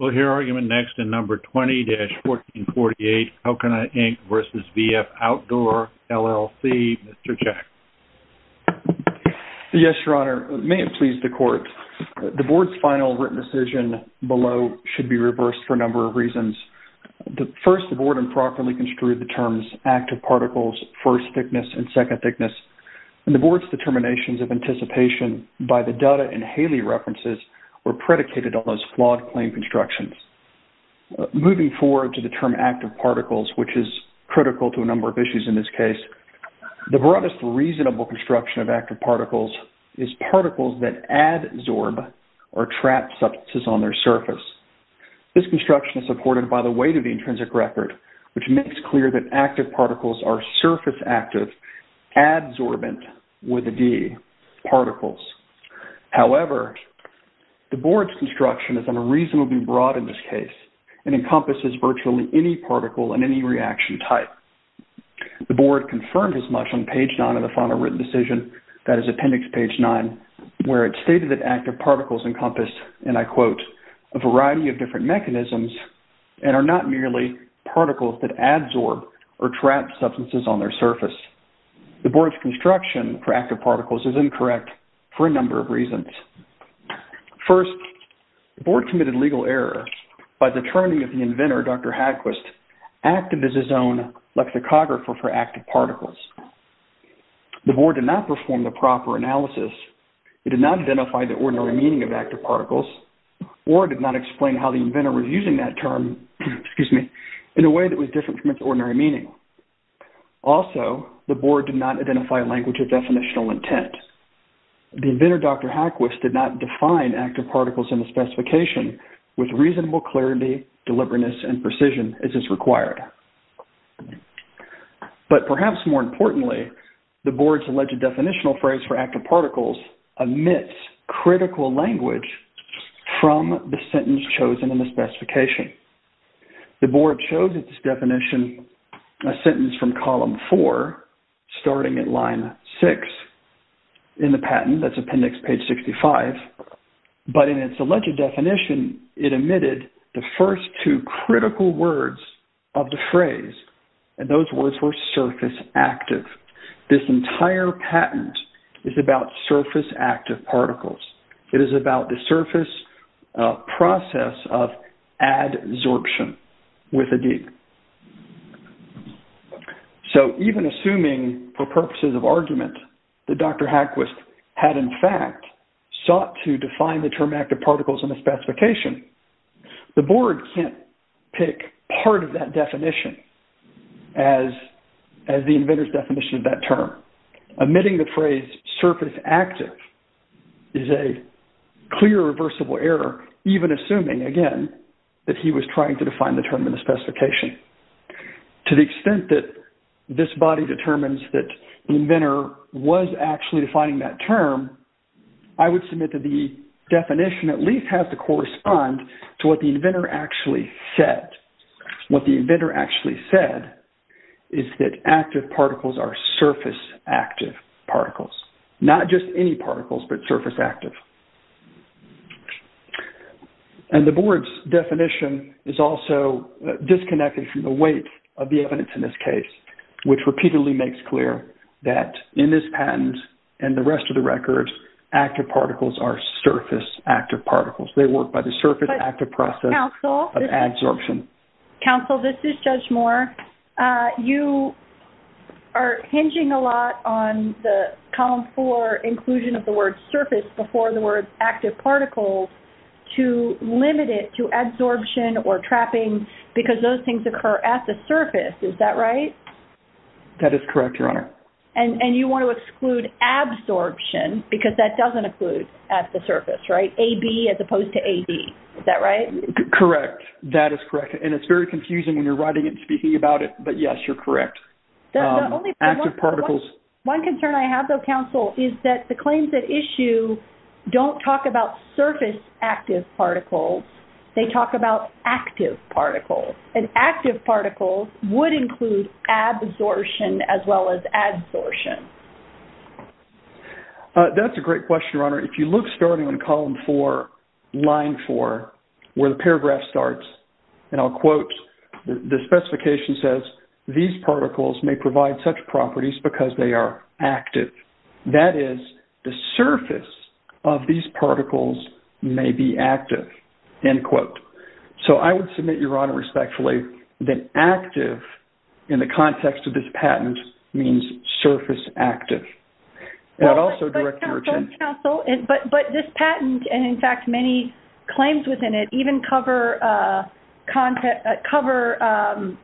We'll hear argument next in No. 20-1448, Alcona, Inc. v. VF Outdoor, LLC. Mr. Jack. Yes, Your Honor. May it please the Court, the Board's final written decision below should be reversed for a number of reasons. First, the Board improperly construed the terms active particles, first thickness, and second thickness. The Board's determinations of anticipation by the Dutta and Haley references were predicated on those flawed claim constructions. Moving forward to the term active particles, which is critical to a number of issues in this case, the broadest reasonable construction of active particles is particles that adsorb or trap substances on their surface. This construction is supported by the weight of the intrinsic record, which makes clear that active particles are surface active, adsorbent with a D, particles. However, the Board's construction is unreasonably broad in this case and encompasses virtually any particle and any reaction type. The Board confirmed as much on page 9 of the final written decision, that is appendix page 9, where it stated that active particles encompass, and I quote, a variety of different mechanisms and are not merely particles that adsorb or trap substances on their surface. The Board's construction for active particles is incorrect for a number of reasons. First, the Board committed legal error by the turning of the inventor, Dr. Hadquist, active as his own lexicographer for active particles. The Board did not perform the proper analysis. It did not identify the ordinary meaning of active particles or did not explain how the inventor was using that term, excuse me, in a way that was different from its ordinary meaning. Also, the Board did not identify a language of definitional intent. The inventor, Dr. Hadquist, did not define active particles in the specification with reasonable clarity, deliberateness, and precision as is required. But perhaps more importantly, the Board's alleged definitional phrase for active particles omits critical language from the sentence chosen in the specification. The Board chose its definition, a sentence from column 4, starting at line 6 in the patent, that's appendix page 65, but in its alleged definition, it omitted the first two critical words of the phrase. And those words were surface active. This entire patent is about surface active particles. It is about the surface process of adsorption with a D. So even assuming, for purposes of argument, that Dr. Hadquist had in fact sought to define the term active particles in the specification, the Board can't pick part of that definition as the inventor's definition of that term. Omitting the phrase surface active is a clear reversible error, even assuming, again, that he was trying to define the term in the specification. To the extent that this body determines that the inventor was actually defining that term, I would submit that the definition at least has to correspond to what the inventor actually said. What the inventor actually said is that active particles are surface active particles, not just any particles, but surface active. And the Board's definition is also disconnected from the weight of the evidence in this case, which repeatedly makes clear that in this patent and the rest of the records, active particles are surface active particles. They work by the surface active process of adsorption. Counsel, this is Judge Moore. You are hinging a lot on the column four inclusion of the word surface before the word active particles to limit it to adsorption or trapping because those things occur at the surface. Is that right? That is correct, Your Honor. And you want to exclude adsorption because that doesn't include at the surface, right? AB as opposed to AD. Is that right? Correct. That is correct. And it's very confusing when you're writing it and speaking about it. But, yes, you're correct. Active particles. One concern I have, though, Counsel, is that the claims at issue don't talk about surface active particles. They talk about active particles. And active particles would include adsorption as well as adsorption. That's a great question, Your Honor. If you look starting on column four, line four, where the paragraph starts, and I'll quote, the specification says, these particles may provide such properties because they are active. That is, the surface of these particles may be active. End quote. So I would submit, Your Honor, respectfully, that active in the context of this patent means surface active. That also directs your attention. But, Counsel, but this patent, and, in fact, many claims within it, even cover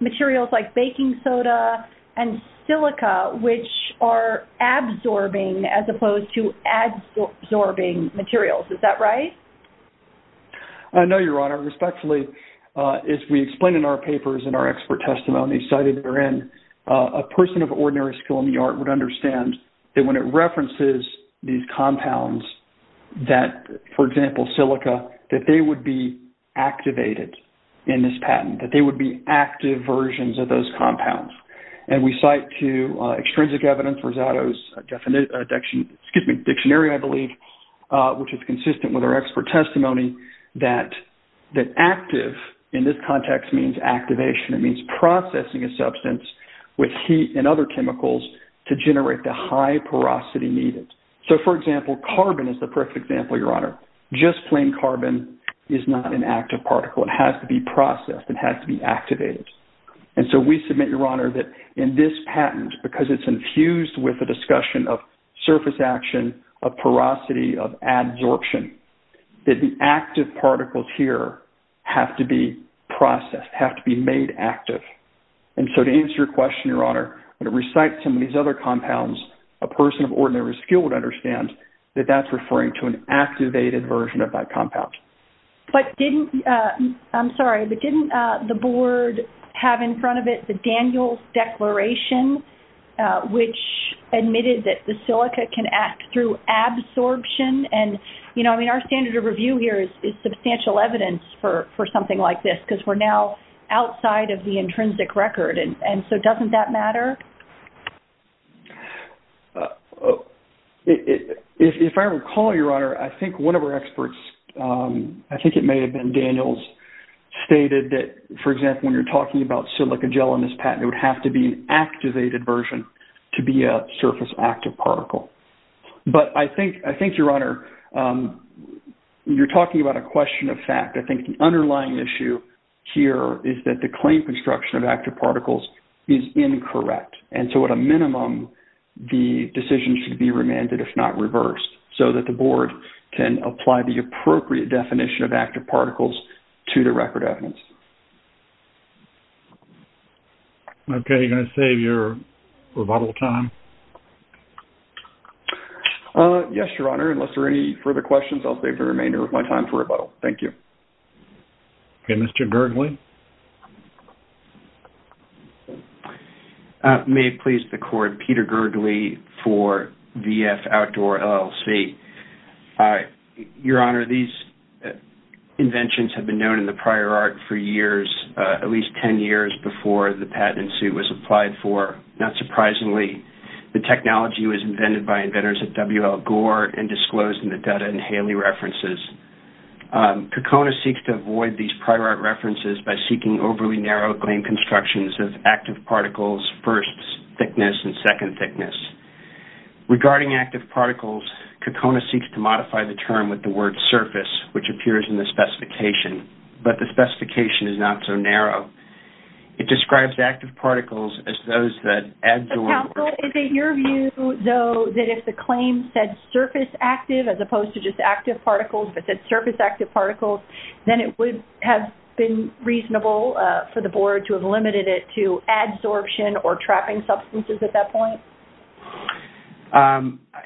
materials like baking soda and silica, which are absorbing as opposed to adsorbing materials. Is that right? No, Your Honor. Respectfully, as we explain in our papers and our expert testimony cited therein, a person of ordinary skill in the art would understand that when it references these compounds that, for example, silica, that they would be activated in this patent, that they would be active versions of those compounds. And we cite to extrinsic evidence, Rosado's dictionary, I believe, which is consistent with our expert testimony, that active in this context means activation. It means processing a substance with heat and other chemicals to generate the high porosity needed. So, for example, carbon is the perfect example, Your Honor. Just plain carbon is not an active particle. It has to be processed. It has to be activated. And so we submit, Your Honor, that in this patent, because it's infused with the discussion of surface action, of porosity, of adsorption, that the active particles here have to be processed, have to be made active. And so to answer your question, Your Honor, when it recites some of these other compounds, a person of ordinary skill would understand that that's referring to an activated version of that compound. But didn't... I'm sorry, but didn't the board have in front of it the Daniels Declaration, which admitted that the silica can act through adsorption? And, you know, I mean, our standard of review here is substantial evidence for something like this because we're now outside of the intrinsic record. And so doesn't that matter? If I recall, Your Honor, I think one of our experts, I think it may have been Daniels, stated that, for example, when you're talking about silica gel in this patent, it would have to be an activated version to be a surface active particle. But I think, Your Honor, you're talking about a question of fact. I think the underlying issue here is that the claim construction of active particles is incorrect. And so at a minimum, the decision should be remanded, if not reversed, so that the board can apply the appropriate definition of active particles to the record evidence. Okay. Are you going to save your rebuttal time? Yes, Your Honor. Unless there are any further questions, I'll save the remainder of my time for rebuttal. Thank you. Okay. Mr. Gergely? May it please the Court, Peter Gergely for VF Outdoor LLC. Your Honor, these inventions have been known in the prior art for years, at least 10 years before the patent suit was applied for. Not surprisingly, the technology was invented by inventors at W.L. Gore and disclosed in the Dutta and Haley references. Kokona seeks to avoid these prior art references by seeking overly narrow claim constructions of active particles, first thickness and second thickness. Regarding active particles, Kokona seeks to modify the term with the word surface, which appears in the specification, but the specification is not so narrow. It describes active particles as those that... Counsel, is it your view, though, that if the claim said surface active, as opposed to just active particles, if it said surface active particles, then it would have been reasonable for the board to have limited it to adsorption or trapping substances at that point?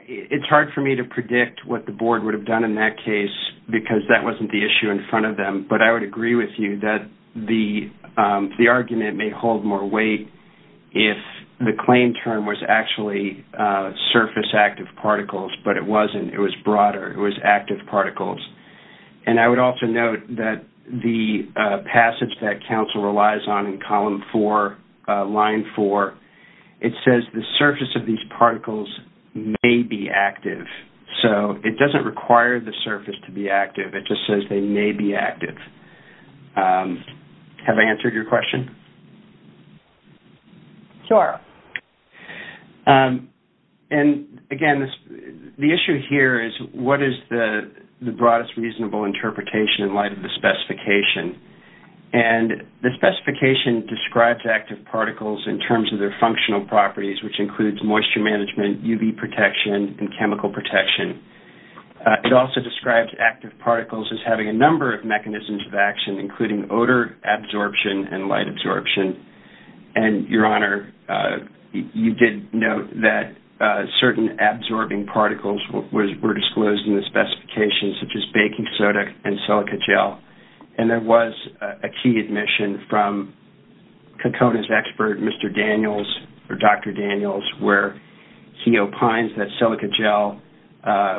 It's hard for me to predict what the board would have done in that case because that wasn't the issue in front of them, but I would agree with you that the argument may hold more weight if the claim term was actually surface active particles, but it wasn't. It was broader. It was active particles. And I would also note that the passage that counsel relies on in column four, line four, it says the surface of these particles may be active, so it doesn't require the surface to be active. It just says they may be active. Have I answered your question? Sure. And, again, the issue here is what is the broadest reasonable interpretation in light of the specification? And the specification describes active particles in terms of their functional properties, which includes moisture management, UV protection, and chemical protection. It also describes active particles as having a number of mechanisms of action, including odor absorption and light absorption. And, Your Honor, you did note that certain absorbing particles were disclosed in the specification, such as baking soda and silica gel, and there was a key admission from Kokona's expert, Mr. Daniels, or Dr. Daniels, where he opines that silica gel,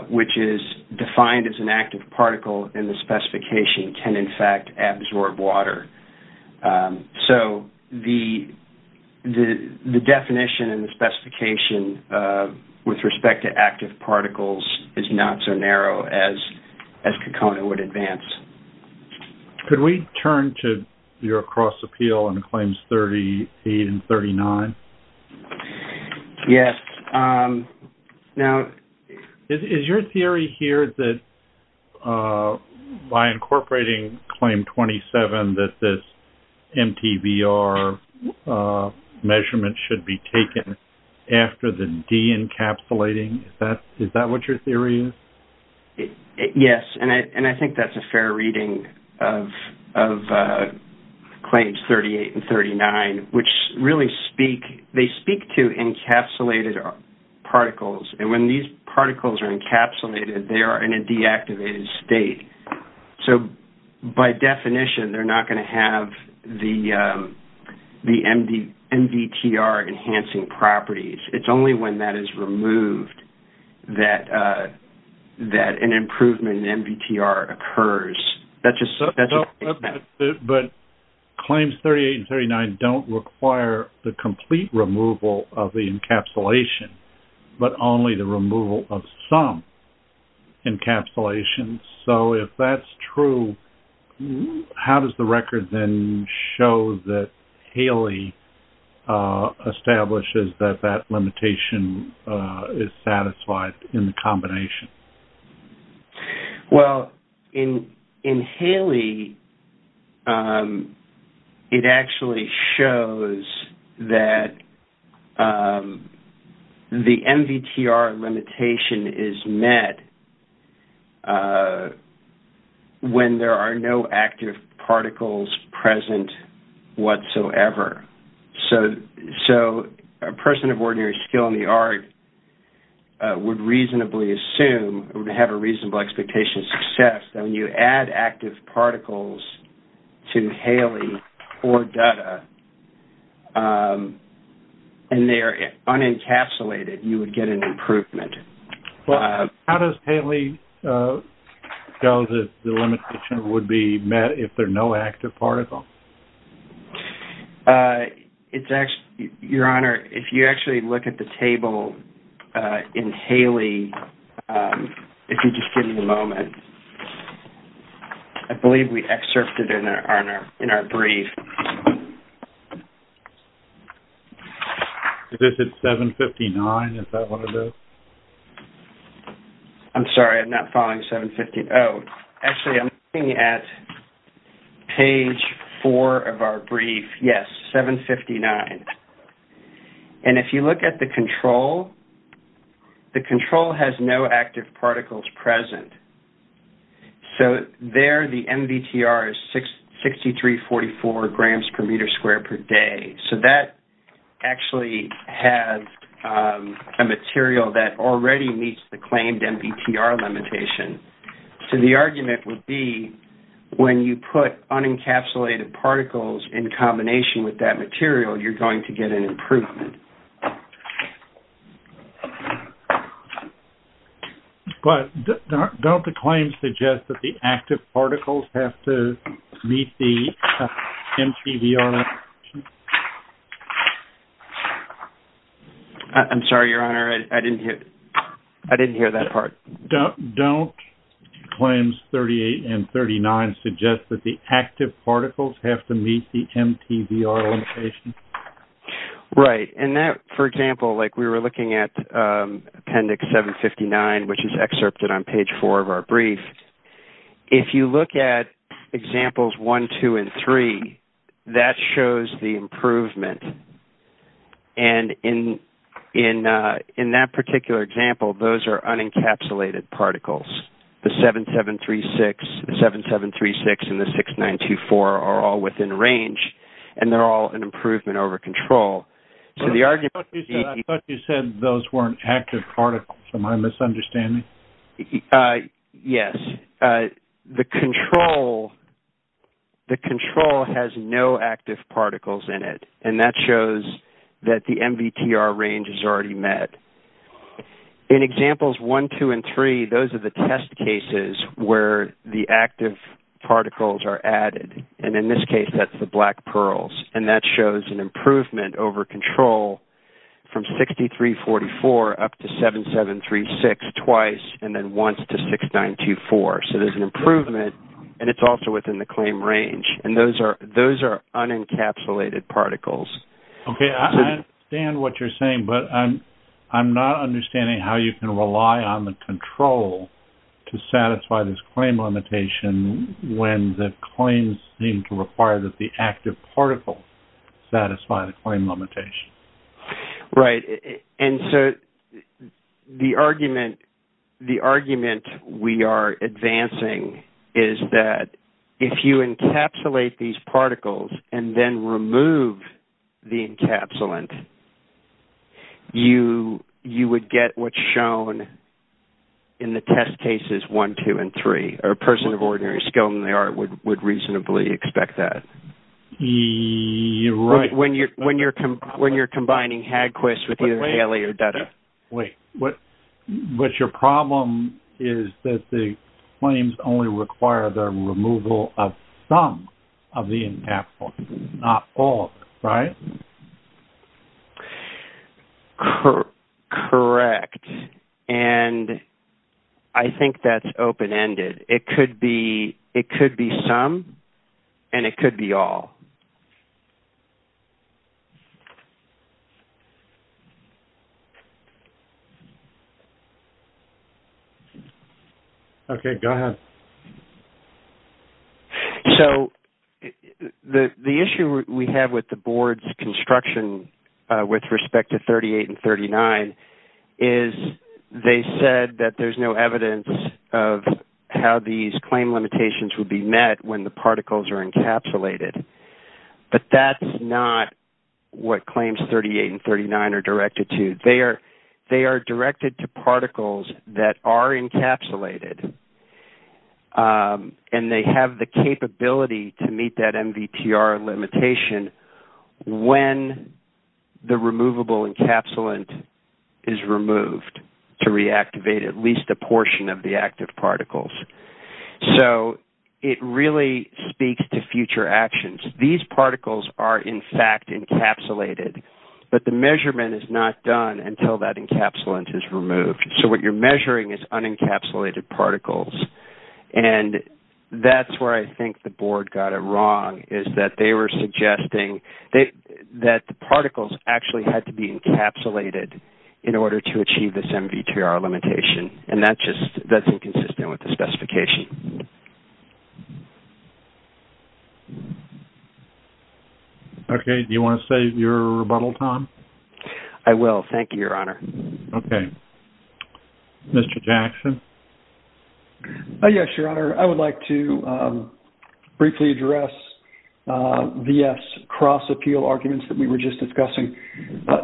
which is defined as an active particle in the specification, can, in fact, absorb water. So the definition in the specification with respect to active particles is not so narrow as Kokona would advance. Could we turn to your cross-appeal in Claims 38 and 39? Yes. Now... Is your theory here that, by incorporating Claim 27, that this MTBR measurement should be taken after the de-encapsulating? Is that what your theory is? Yes, and I think that's a fair reading of Claims 38 and 39, which really speak... They speak to encapsulated particles, and when these particles are encapsulated, they are in a deactivated state. So, by definition, they're not going to have the MDTR enhancing properties. It's only when that is removed that an improvement in MDTR occurs. That's just... But Claims 38 and 39 don't require the complete removal of the encapsulation, but only the removal of some encapsulations. So, if that's true, how does the record then show that Haley establishes that that limitation is satisfied in the combination? Well, in Haley, it actually shows that the MDTR limitation is met when there are no active particles present whatsoever. So, a person of ordinary skill in the art would reasonably assume, would have a reasonable expectation of success that when you add active particles to Haley or Dutta, and they are unencapsulated, you would get an improvement. Well, how does Haley show that the limitation would be met if there are no active particles? Your Honor, if you actually look at the table in Haley, if you just give me a moment, I believe we excerpted it in our brief. Okay. Is this at 759? Is that one of those? I'm sorry, I'm not following 759. Oh, actually, I'm looking at page four of our brief. Yes, 759. And if you look at the control, the control has no active particles present. So, there the MDTR is 6344 grams per meter squared per day. So, that actually has a material that already meets the claimed MDTR limitation. So, the argument would be when you put unencapsulated particles in combination with that material, you're going to get an improvement. But don't the claims suggest that the active particles have to meet the MTVR limitation? I'm sorry, Your Honor. I didn't hear that part. Don't claims 38 and 39 suggest that the active particles have to meet the MTVR limitation? Right. For example, we were looking at Appendix 759, which is excerpted on page four of our brief. If you look at examples one, two, and three, that shows the improvement. And in that particular example, those are unencapsulated particles. The 7736 and the 6924 are all within range, and they're all an improvement over control. I thought you said those weren't active particles. Am I misunderstanding? Yes. The control has no active particles in it, and that shows that the MVTR range is already met. In examples one, two, and three, those are the test cases where the active particles are added. And in this case, that's the black pearls. And that shows an improvement over control from 6344 up to 7736 twice, and then once to 6924. So there's an improvement, and it's also within the claim range. And those are unencapsulated particles. Okay. I understand what you're saying, but I'm not understanding how you can rely on the control to satisfy this claim limitation when the claims seem to require that the active particle satisfy the claim limitation. Right. And so the argument we are advancing is that if you encapsulate these particles and then remove the encapsulant, you would get what's shown in the test cases one, two, and three. A person of ordinary skill in the art would reasonably expect that. You're right. When you're combining Hagquist with either Haley or Dutta. Wait. But your problem is that the claims only require the removal of some of the encapsulant, not all of it, right? Correct. And I think that's open-ended. It could be some, and it could be all. Okay. Go ahead. So the issue we have with the board's construction with respect to 38 and 39 is they said that there's no evidence of how these claim limitations would be met when the particles are encapsulated. But that's not what claims 38 and 39 are directed to. They are directed to particles that are encapsulated. And they have the capability to meet that MVTR limitation when the removable encapsulant is removed to reactivate at least a portion of the active particles. So it really speaks to future actions. These particles are, in fact, encapsulated. But the measurement is not done until that encapsulant is removed. So what you're measuring is unencapsulated particles. And that's where I think the board got it wrong, is that they were suggesting that the particles actually had to be encapsulated in order to achieve this MVTR limitation. And that's inconsistent with the specification. Do you want to save your rebuttal, Tom? I will. Thank you, Your Honor. Okay. Mr. Jackson? Yes, Your Honor. I would like to briefly address VF's cross-appeal arguments that we were just discussing.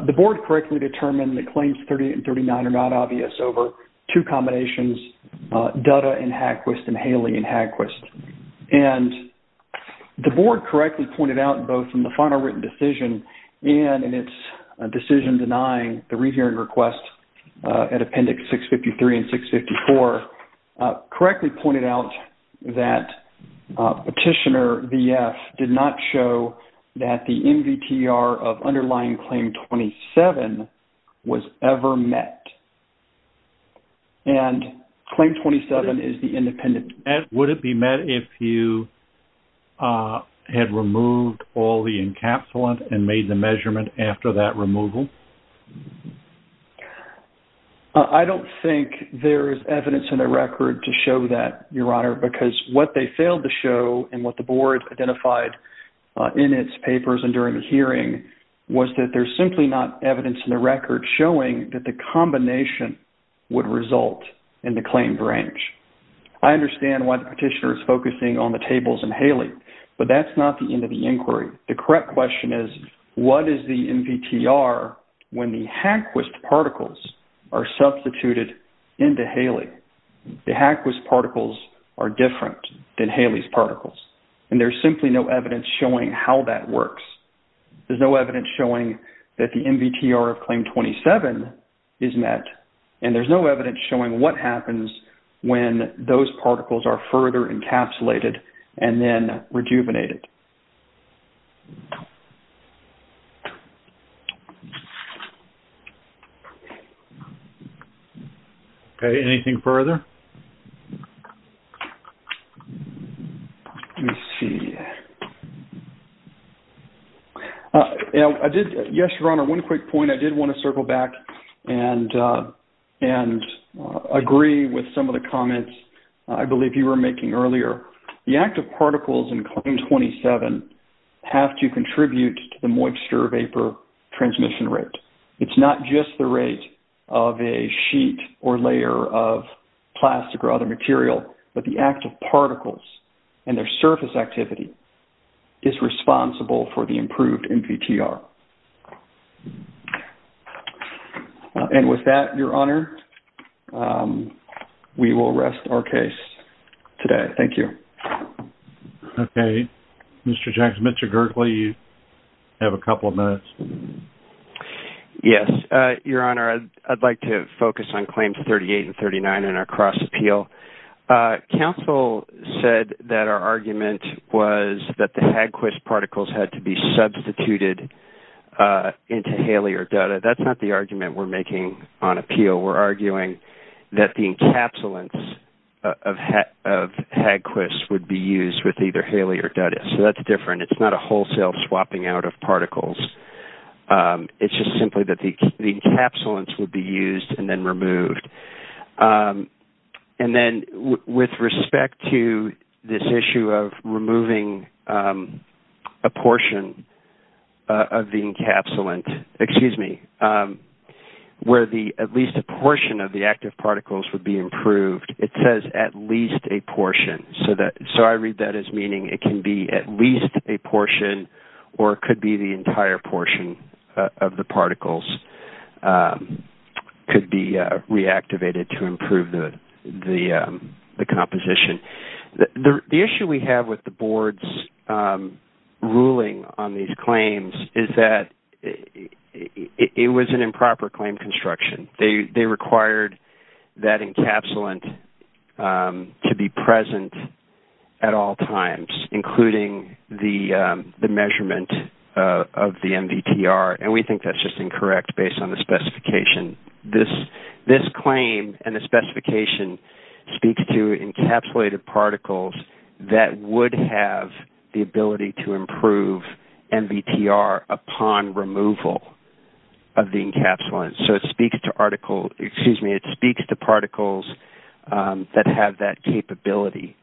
The board correctly determined that claims 38 and 39 are not obvious over two combinations, Dutta and Hagquist and Haley and Hagquist. And the board correctly pointed out both in the final written decision and in its decision denying the rehearing request at Appendix 653 and 654, correctly pointed out that Petitioner VF did not show that the MVTR of underlying Claim 27 was ever met. And Claim 27 is the independent. And would it be met if you had removed all the encapsulant and made the claim after that removal? I don't think there is evidence in the record to show that, Your Honor, because what they failed to show and what the board identified in its papers and during the hearing was that there's simply not evidence in the record showing that the combination would result in the claimed range. I understand why the Petitioner is focusing on the tables and Haley, but that's not the end of the inquiry. The correct question is, what is the MVTR when the Hagquist particles are substituted into Haley? The Hagquist particles are different than Haley's particles, and there's simply no evidence showing how that works. There's no evidence showing that the MVTR of Claim 27 is met, and there's no evidence showing what happens when those particles are substituted into Haley. Okay, anything further? Let me see. Yes, Your Honor, one quick point. I did want to circle back and agree with some of the comments I believe you were making earlier. The active particles in Claim 27 have to contribute to the moisture vapor transmission rate. It's not just the rate of a sheet or layer of plastic or other material, but the active particles and their surface activity is responsible for the improved MVTR. And with that, Your Honor, we will rest our case today. Thank you. Okay. Mr. Jackson, Mr. Gerkley, you have a couple of minutes. Yes, Your Honor, I'd like to focus on Claims 38 and 39 in our cross-appeal. Counsel said that our argument was that the Hagquist particles had to be substituted into Haley or Dutta. That's not the argument we're making on appeal. We're arguing that the encapsulants of Hagquist would be used with either Haley or Dutta. So that's different. It's not a wholesale swapping out of particles. It's just simply that the encapsulants would be used and then removed. And then with respect to this issue of removing a portion of the activity, where at least a portion of the active particles would be improved, it says at least a portion. So I read that as meaning it can be at least a portion or it could be the entire portion of the particles could be reactivated to improve the composition. The issue we have with the Board's ruling on these claims is that it was an improper claim construction. They required that encapsulant to be present at all times, including the measurement of the MVTR, and we think that's just incorrect based on the specification. This claim and the specification speaks to encapsulated particles that would have the ability to improve MVTR upon removal of the encapsulant. So it speaks to particles that have that capability.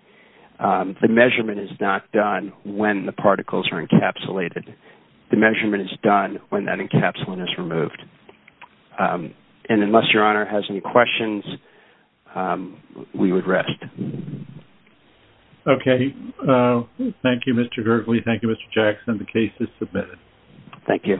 The measurement is not done when the particles are encapsulated. The measurement is done when that encapsulant is removed. And unless Your Honor has any questions, we would rest. Okay. Thank you, Mr. Gurgley. Thank you, Mr. Jackson. The case is submitted. Thank you.